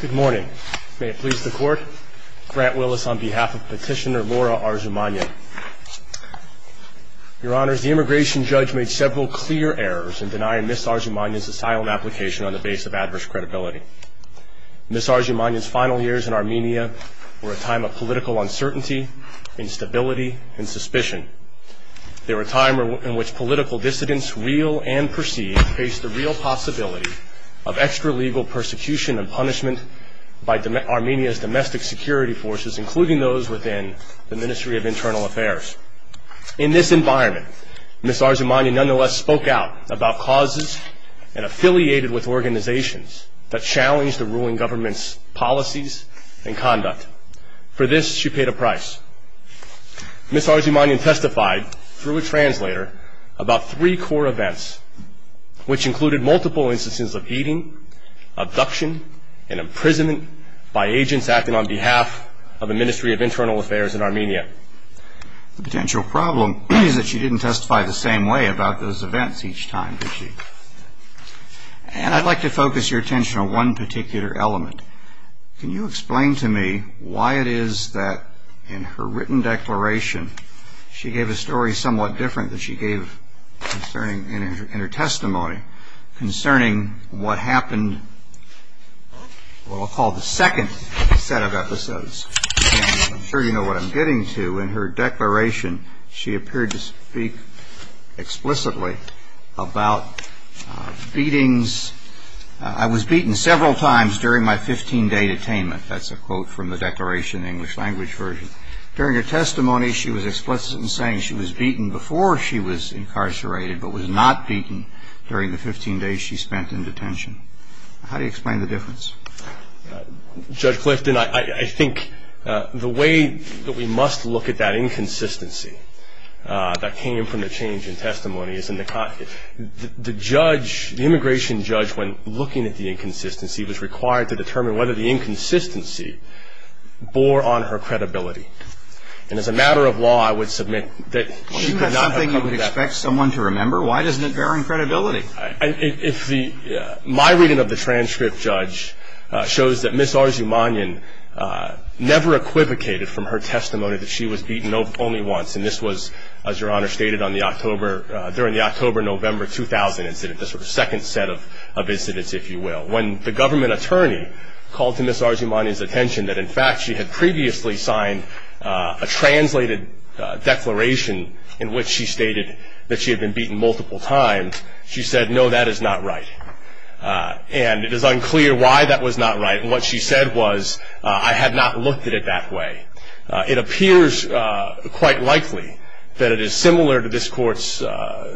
Good morning. May it please the Court, Grant Willis on behalf of Petitioner Laura Arzumanyan. Your Honours, the immigration judge made several clear errors in denying Ms. Arzumanyan's asylum application on the basis of adverse credibility. Ms. Arzumanyan's final years in Armenia were a time of political uncertainty, instability, and suspicion. They were a time in which political dissidents, real and perceived, faced the real possibility of extra-legal persecution and punishment by Armenia's domestic security forces, including those within the Ministry of Internal Affairs. In this environment, Ms. Arzumanyan nonetheless spoke out about causes and affiliated with organizations that challenged the ruling government's policies and conduct. For this, she paid a price. Ms. Arzumanyan testified, through a translator, about three core events, which included multiple instances of beating, abduction, and imprisonment by agents acting on behalf of the Ministry of Internal Affairs in Armenia. The potential problem is that she didn't testify the same way about those events each time, did she? And I'd like to focus your attention on one particular element. Can you explain to me why it is that in her written declaration, she gave a story somewhat different than she gave concerning in her testimony concerning what happened, what I'll call the second set of episodes. I'm sure you know what I'm getting to. In her declaration, she appeared to speak explicitly about beatings. I was beaten several times during my 15-day detainment. That's a quote from the declaration, the English language version. During her testimony, she was explicit in saying she was beaten before she was incarcerated, but was not beaten during the 15 days she spent in detention. How do you explain the difference? Judge Clifton, I think the way that we must look at that inconsistency that came from the change in testimony, the judge, the immigration judge, when looking at the inconsistency, was required to determine whether the inconsistency bore on her credibility. And as a matter of law, I would submit that she could not have done that. I would expect someone to remember. Why doesn't it bear on credibility? My reading of the transcript, Judge, shows that Ms. Arzumanian never equivocated from her testimony that she was beaten only once. And this was, as Your Honor stated, during the October-November 2000 incident, the second set of incidents, if you will, when the government attorney called to Ms. Arzumanian's attention that, in fact, she had previously signed a translated declaration in which she stated that she had been beaten multiple times, she said, no, that is not right. And it is unclear why that was not right. And what she said was, I have not looked at it that way. It appears quite likely that it is similar to this Court's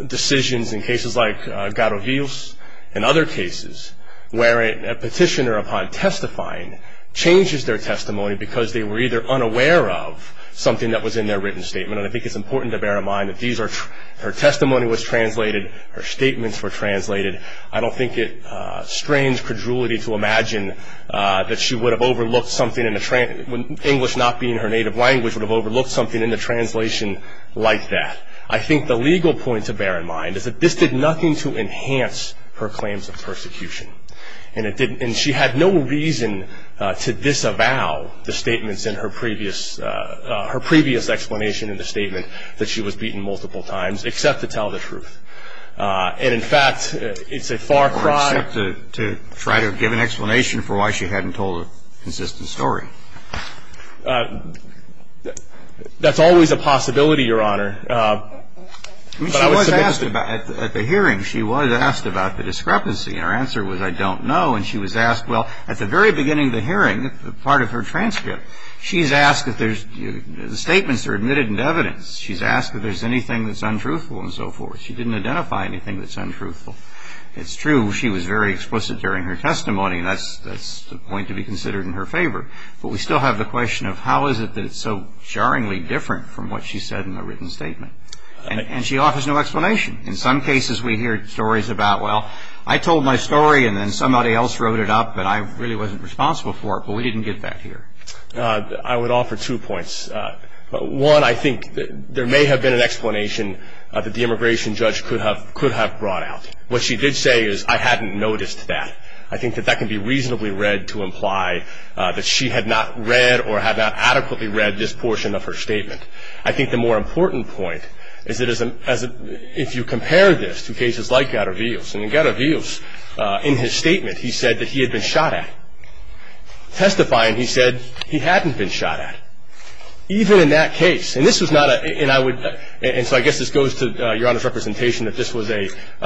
decisions in cases like Garogios and other cases, where a petitioner, upon testifying, changes their testimony because they were either unaware of something that was in their written statement, and I think it's important to bear in mind that her testimony was translated, her statements were translated. I don't think it's strange credulity to imagine that she would have overlooked something, English not being her native language, would have overlooked something in the translation like that. I think the legal point to bear in mind is that this did nothing to enhance her claims of persecution. And she had no reason to disavow the statements in her previous, her previous explanation in the statement that she was beaten multiple times, except to tell the truth. And, in fact, it's a far cry... To try to give an explanation for why she hadn't told a consistent story. That's always a possibility, Your Honor. I mean, she was asked about, at the hearing, she was asked about the discrepancy. And her answer was, I don't know. And she was asked, well, at the very beginning of the hearing, part of her transcript, she's asked if there's, the statements are admitted into evidence. She's asked if there's anything that's untruthful and so forth. She didn't identify anything that's untruthful. It's true, she was very explicit during her testimony, and that's the point to be considered in her favor. But we still have the question of how is it that it's so jarringly different from what she said in the written statement. And she offers no explanation. In some cases we hear stories about, well, I told my story and then somebody else wrote it up, but I really wasn't responsible for it. But we didn't get that here. I would offer two points. One, I think there may have been an explanation that the immigration judge could have brought out. What she did say is, I hadn't noticed that. I think that that can be reasonably read to imply that she had not read or had not adequately read this portion of her statement. I think the more important point is that if you compare this to cases like Gatterveel's, and in Gatterveel's, in his statement, he said that he had been shot at. Testifying, he said he hadn't been shot at, even in that case. And this was not a, and I would, and so I guess this goes to Your Honor's representation, that this was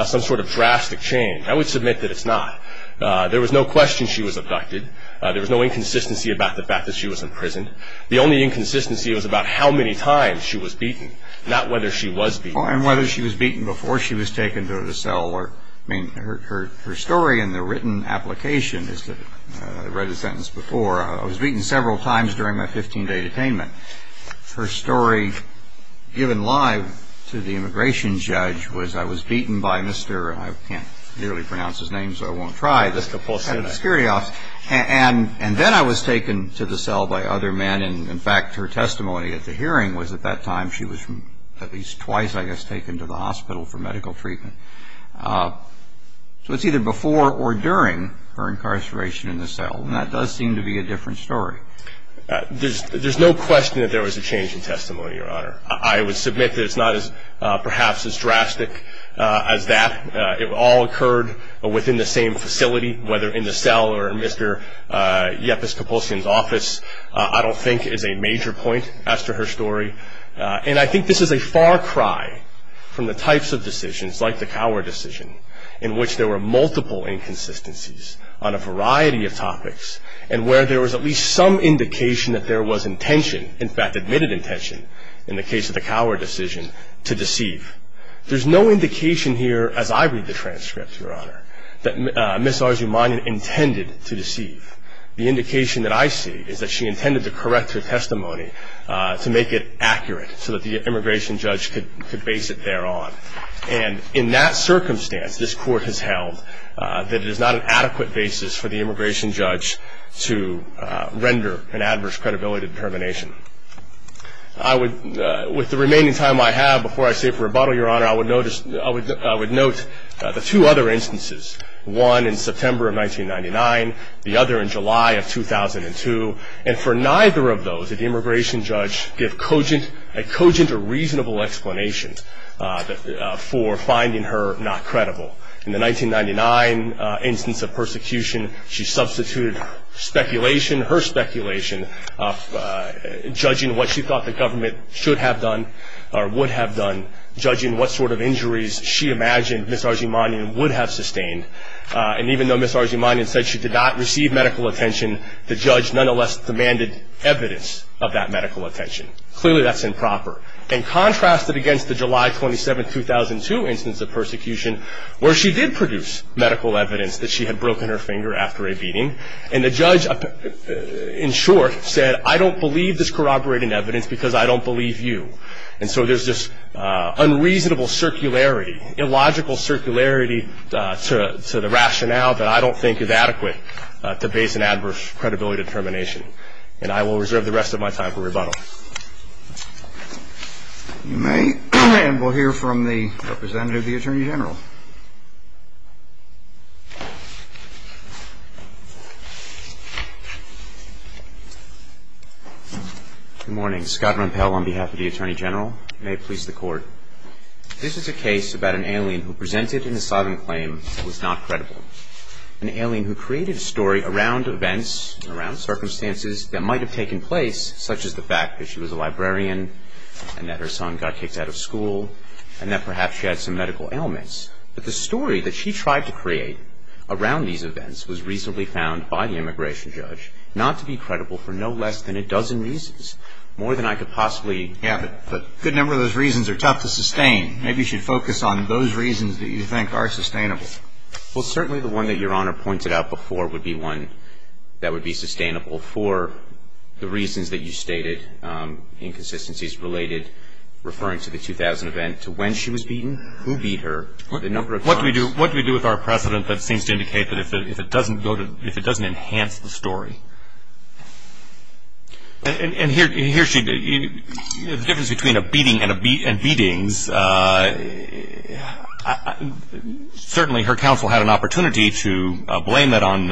some sort of drastic change. I would submit that it's not. There was no question she was abducted. There was no inconsistency about the fact that she was in prison. The only inconsistency was about how many times she was beaten, not whether she was beaten. And whether she was beaten before she was taken to the cell. I mean, her story in the written application is that, I read the sentence before, I was beaten several times during my 15-day detainment. Her story given live to the immigration judge was I was beaten by Mr. I can't clearly pronounce his name, so I won't try. Mr. Pulsini. And then I was taken to the cell by other men. And, in fact, her testimony at the hearing was at that time she was at least twice, I guess, taken to the hospital for medical treatment. So it's either before or during her incarceration in the cell. And that does seem to be a different story. There's no question that there was a change in testimony, Your Honor. I would submit that it's not perhaps as drastic as that. It all occurred within the same facility, whether in the cell or in Mr. Yepis Kapulski's office, I don't think is a major point as to her story. And I think this is a far cry from the types of decisions, like the Cower decision, in which there were multiple inconsistencies on a variety of topics and where there was at least some indication that there was intention, in fact, admitted intention, in the case of the Cower decision, to deceive. There's no indication here, as I read the transcript, Your Honor, that Ms. Arzumanian intended to deceive. The indication that I see is that she intended to correct her testimony to make it accurate so that the immigration judge could base it thereon. And in that circumstance, this Court has held that it is not an adequate basis for the immigration judge to render an adverse credibility determination. With the remaining time I have before I say for rebuttal, Your Honor, I would note the two other instances, one in September of 1999, the other in July of 2002. And for neither of those, did the immigration judge give a cogent or reasonable explanation for finding her not credible. In the 1999 instance of persecution, she substituted speculation, her speculation, judging what she thought the government should have done or would have done, judging what sort of injuries she imagined Ms. Arzumanian would have sustained. And even though Ms. Arzumanian said she did not receive medical attention, the judge nonetheless demanded evidence of that medical attention. Clearly that's improper. And contrasted against the July 27, 2002 instance of persecution, where she did produce medical evidence that she had broken her finger after a beating, and the judge, in short, said, I don't believe this corroborated evidence because I don't believe you. And so there's this unreasonable circularity, illogical circularity to the rationale that I don't think is adequate to base an adverse credibility determination. And I will reserve the rest of my time for rebuttal. You may, and we'll hear from the representative of the Attorney General. Good morning. Scott Rompel on behalf of the Attorney General. May it please the Court. This is a case about an alien who presented an asylum claim that was not credible. An alien who created a story around events, around circumstances that might have taken place, such as the fact that she was a librarian and that her son got kicked out of school and that perhaps she had some medical ailments. But the story that she tried to create around these events was reasonably found by the immigration judge not to be credible for no less than a dozen reasons, more than I could possibly. Yeah, but a good number of those reasons are tough to sustain. Maybe you should focus on those reasons that you think are sustainable. Well, certainly the one that Your Honor pointed out before would be one that would be sustainable for the reasons that you stated, inconsistencies related, referring to the 2000 event, to when she was beaten, who beat her, the number of times. What do we do with our precedent that seems to indicate that if it doesn't enhance the story? And here's the difference between a beating and beatings. Certainly her counsel had an opportunity to blame that on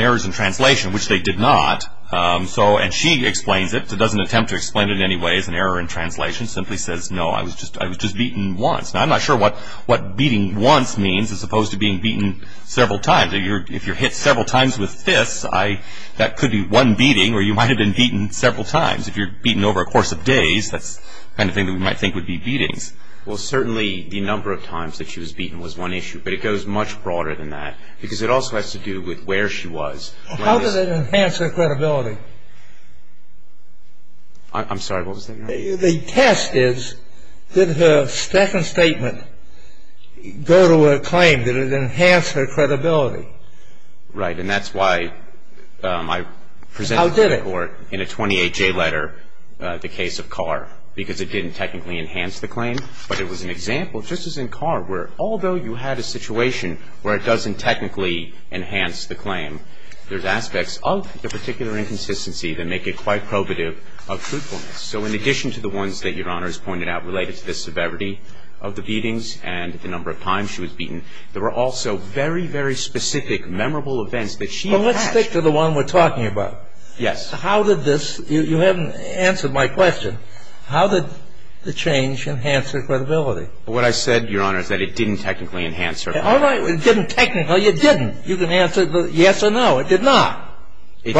errors in translation, which they did not. And she explains it, doesn't attempt to explain it in any way as an error in translation, simply says, no, I was just beaten once. Now I'm not sure what beating once means as opposed to being beaten several times. If you're hit several times with fists, that could be one beating, or you might have been beaten several times. If you're beaten over a course of days, that's the kind of thing that we might think would be beatings. Well, certainly the number of times that she was beaten was one issue, but it goes much broader than that because it also has to do with where she was. How did it enhance her credibility? I'm sorry, what was that? The test is, did her second statement go to a claim? Did it enhance her credibility? Right. And that's why I presented to the court in a 28-J letter the case of Carr, because it didn't technically enhance the claim, but it was an example, just as in Carr, where although you had a situation where it doesn't technically enhance the claim, there's aspects of the particular inconsistency that make it quite probative of truthfulness. So in addition to the ones that Your Honor has pointed out related to the severity of the beatings and the number of times she was beaten, there were also very, very specific memorable events that she had. Well, let's stick to the one we're talking about. Yes. How did this, you haven't answered my question, how did the change enhance her credibility? What I said, Your Honor, is that it didn't technically enhance her credibility. All right, it didn't technically, it didn't. You can answer yes or no, it did not. It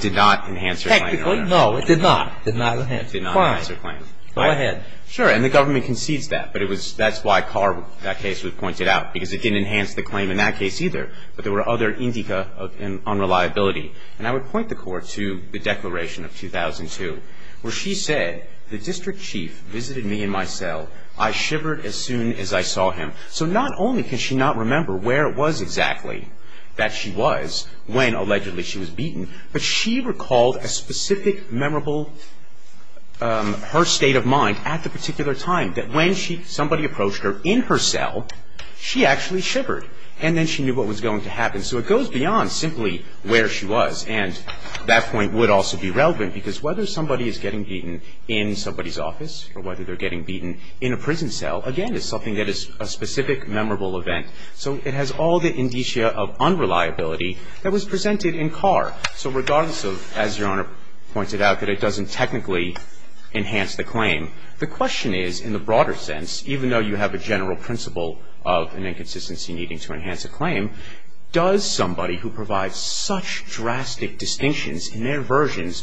did not enhance her credibility. No, it did not. It did not enhance. It did not enhance her claim. Go ahead. Sure, and the government concedes that, but it was, that's why Carr, that case was pointed out, because it didn't enhance the claim in that case either, but there were other indica of unreliability. And I would point the court to the declaration of 2002, where she said, the district chief visited me in my cell. I shivered as soon as I saw him. But she recalled a specific memorable, her state of mind at the particular time, that when she, somebody approached her in her cell, she actually shivered. And then she knew what was going to happen. So it goes beyond simply where she was. And that point would also be relevant because whether somebody is getting beaten in somebody's office or whether they're getting beaten in a prison cell, again, is something that is a specific memorable event. So it has all the indicia of unreliability that was presented in Carr. So regardless of, as Your Honor pointed out, that it doesn't technically enhance the claim, the question is, in the broader sense, even though you have a general principle of an inconsistency needing to enhance a claim, does somebody who provides such drastic distinctions in their versions,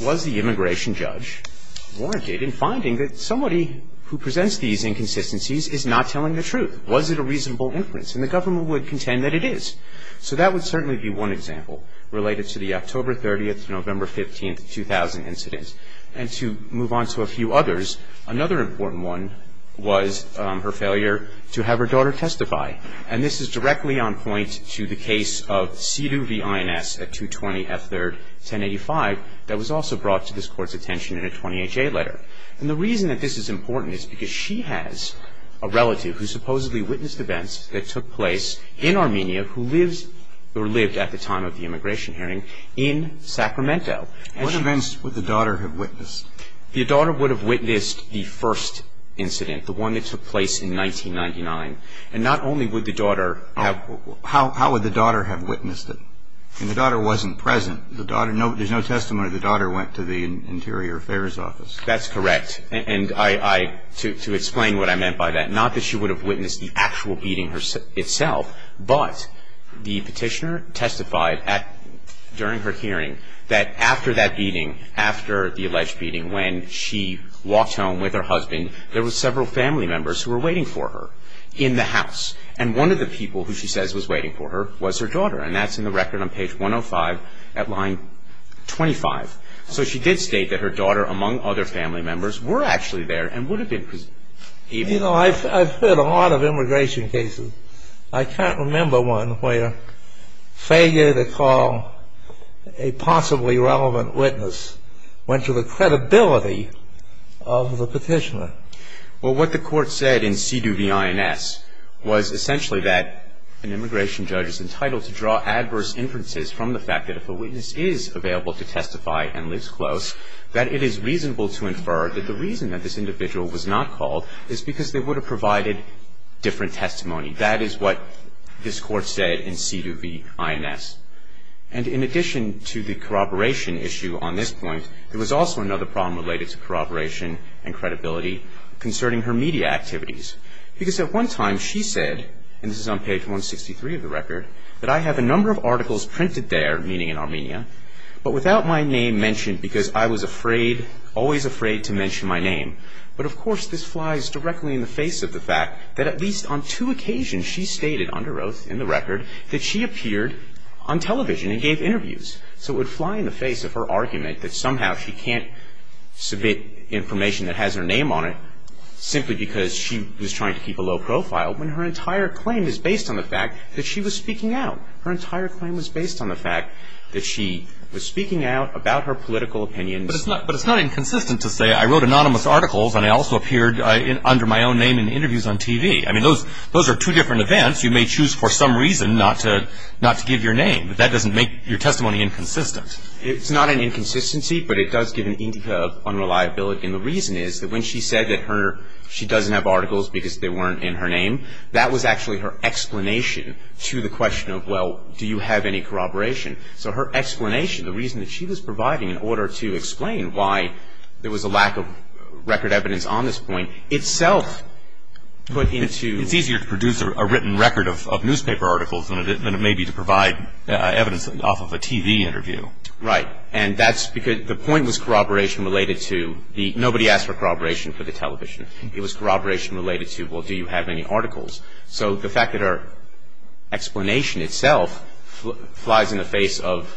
was the immigration judge warranted in finding that somebody who presents these inconsistencies is not telling the truth? Was it a reasonable inference? And the government would contend that it is. So that would certainly be one example related to the October 30th, November 15th, 2000 incident. And to move on to a few others, another important one was her failure to have her daughter testify. And this is directly on point to the case of Sidu v. Ines at 220 F3rd, 1085, that was also brought to this Court's attention in a 20HA letter. And the reason that this is important is because she has a relative who supposedly witnessed events that took place in Armenia who lives or lived at the time of the immigration hearing in Sacramento. What events would the daughter have witnessed? The daughter would have witnessed the first incident, the one that took place in 1999. And not only would the daughter have How would the daughter have witnessed it? I mean, the daughter wasn't present. There's no testimony that the daughter went to the Interior Affairs Office. That's correct. And I, to explain what I meant by that, not that she would have witnessed the actual beating itself, but the petitioner testified during her hearing that after that beating, after the alleged beating when she walked home with her husband, there were several family members who were waiting for her in the house. And one of the people who she says was waiting for her was her daughter. And that's in the record on page 105 at line 25. So she did state that her daughter, among other family members, were actually there and would have been present. You know, I've heard a lot of immigration cases. I can't remember one where failure to call a possibly relevant witness went to the credibility of the petitioner. Well, what the court said in C.D.U.V.I.N.S. was essentially that an immigration judge is entitled to draw adverse inferences from the fact that if a witness is available to testify and lives close, that it is reasonable to infer that the reason that this individual was not called is because they would have provided different testimony. That is what this court said in C.D.U.V.I.N.S. And in addition to the corroboration issue on this point, there was also another problem related to corroboration and credibility concerning her media activities. Because at one time she said, and this is on page 163 of the record, that I have a number of articles printed there, meaning in Armenia, but without my name mentioned because I was afraid, always afraid to mention my name. But of course this flies directly in the face of the fact that at least on two occasions she stated under oath in the record that she appeared on television and gave interviews. So it would fly in the face of her argument that somehow she can't submit information that has her name on it simply because she was trying to keep a low profile when her entire claim is based on the fact that she was speaking out. Her entire claim was based on the fact that she was speaking out about her political opinions. But it's not inconsistent to say I wrote anonymous articles and I also appeared under my own name in interviews on TV. I mean, those are two different events. You may choose for some reason not to give your name. But that doesn't make your testimony inconsistent. It's not an inconsistency, but it does give an indica of unreliability. And the reason is that when she said that she doesn't have articles because they weren't in her name, that was actually her explanation to the question of, well, do you have any corroboration? So her explanation, the reason that she was providing in order to explain why there was a lack of record evidence on this point, itself put into It's easier to produce a written record of newspaper articles than it may be to provide evidence off of a TV interview. Right. And that's because the point was corroboration related to the nobody asked for corroboration for the television. It was corroboration related to, well, do you have any articles? So the fact that her explanation itself flies in the face of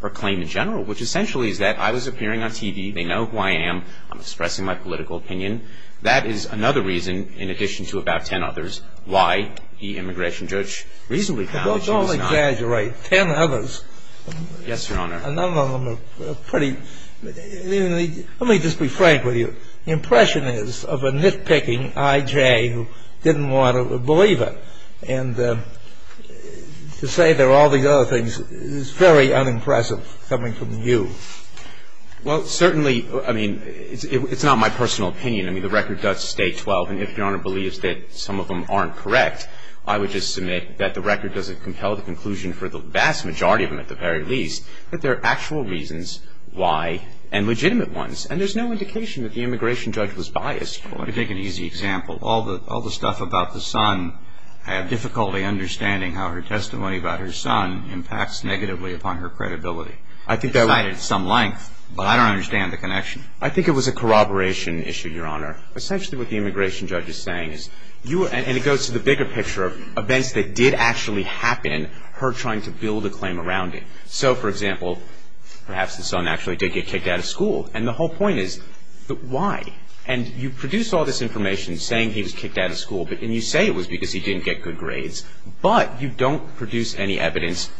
her claim in general, which essentially is that I was appearing on TV. They know who I am. I'm expressing my political opinion. That is another reason, in addition to about ten others, why the immigration judge reasonably found that she was not Don't exaggerate. Ten others. Yes, Your Honor. A number of them are pretty Let me just be frank with you. The impression is of a nitpicking I.J. who didn't want to believe her. And to say there are all these other things is very unimpressive coming from you. Well, certainly, I mean, it's not my personal opinion. I mean, the record does state 12. And if Your Honor believes that some of them aren't correct, I would just submit that the record doesn't compel the conclusion for the vast majority of them, at the very least, that there are actual reasons why and legitimate ones. And there's no indication that the immigration judge was biased. Let me take an easy example. All the stuff about the son, I have difficulty understanding how her testimony about her son impacts negatively upon her credibility. It's cited at some length, but I don't understand the connection. I think it was a corroboration issue, Your Honor. Essentially what the immigration judge is saying is and it goes to the bigger picture of events that did actually happen, her trying to build a claim around it. So, for example, perhaps the son actually did get kicked out of school. And the whole point is, why? And you produce all this information saying he was kicked out of school, and you say it was because he didn't get good grades. But you don't produce any evidence,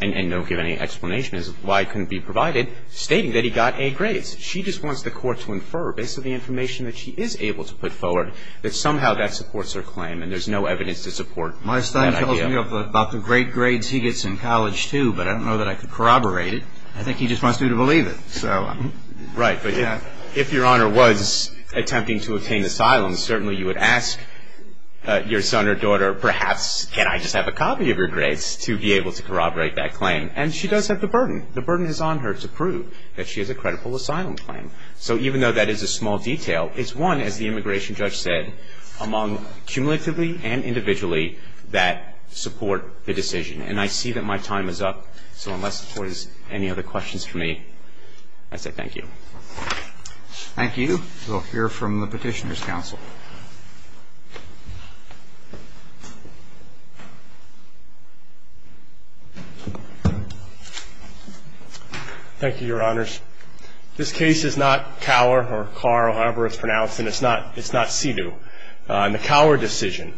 and don't give any explanation as to why it couldn't be provided, stating that he got A grades. She just wants the court to infer, based on the information that she is able to put forward, that somehow that supports her claim, and there's no evidence to support that idea. My son tells me about the great grades he gets in college, too, but I don't know that I could corroborate it. I think he just wants me to believe it. Right, but if Your Honor was attempting to obtain asylum, certainly you would ask your son or daughter, perhaps can I just have a copy of your grades to be able to corroborate that claim. And she does have the burden. The burden is on her to prove that she has a credible asylum claim. So even though that is a small detail, it's one, as the immigration judge said, among cumulatively and individually, that support the decision. And I see that my time is up. So unless the court has any other questions for me, I say thank you. Thank you. We'll hear from the Petitioner's Counsel. Thank you, Your Honors. This case is not Cower or Carver, however it's pronounced, and it's not Sidhu. In the Cower decision,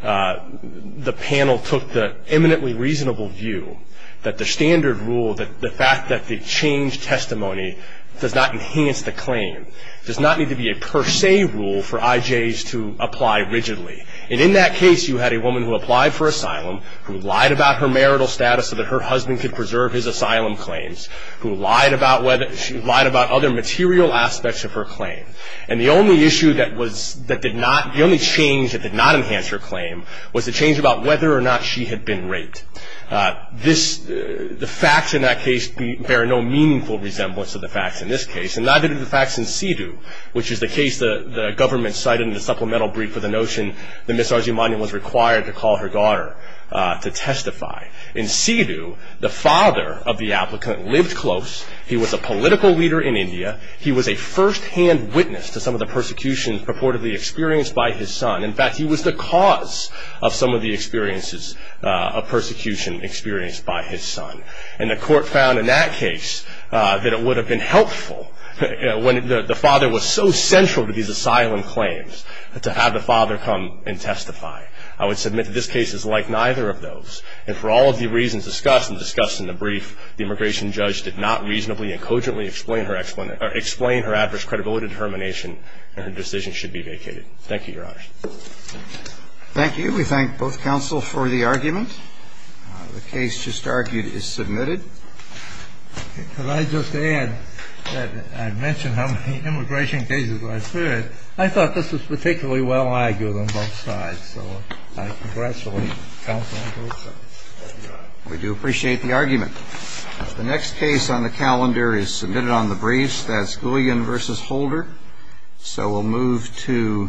the panel took the eminently reasonable view that the standard rule, the fact that they changed testimony does not enhance the claim, does not need to be a per se rule for IJs to apply rigidly. And in that case, you had a woman who applied for asylum, who lied about her marital status so that her husband could preserve his asylum claims, who lied about other material aspects of her claim. And the only issue that did not, the only change that did not enhance her claim, was the change about whether or not she had been raped. The facts in that case bear no meaningful resemblance to the facts in this case, and neither do the facts in Sidhu, which is the case the government cited in the supplemental brief for the notion that Ms. Arjumanian was required to call her daughter to testify. In Sidhu, the father of the applicant lived close. He was a political leader in India. He was a first-hand witness to some of the persecutions purportedly experienced by his son. In fact, he was the cause of some of the experiences of persecution experienced by his son. And the court found in that case that it would have been helpful, when the father was so central to these asylum claims, to have the father come and testify. I would submit that this case is like neither of those. And for all of the reasons discussed and discussed in the brief, the immigration judge did not reasonably and cogently explain her adverse credibility determination, and her decision should be vacated. Thank you, Your Honors. Thank you. We thank both counsel for the argument. The case just argued is submitted. Could I just add that I mentioned how many immigration cases I've heard. I thought this was particularly well-argued on both sides. So I congratulate counsel on both sides. Thank you, Your Honor. We do appreciate the argument. The next case on the calendar is submitted on the briefs. That's Guillen v. Holder. So we'll move to the next case.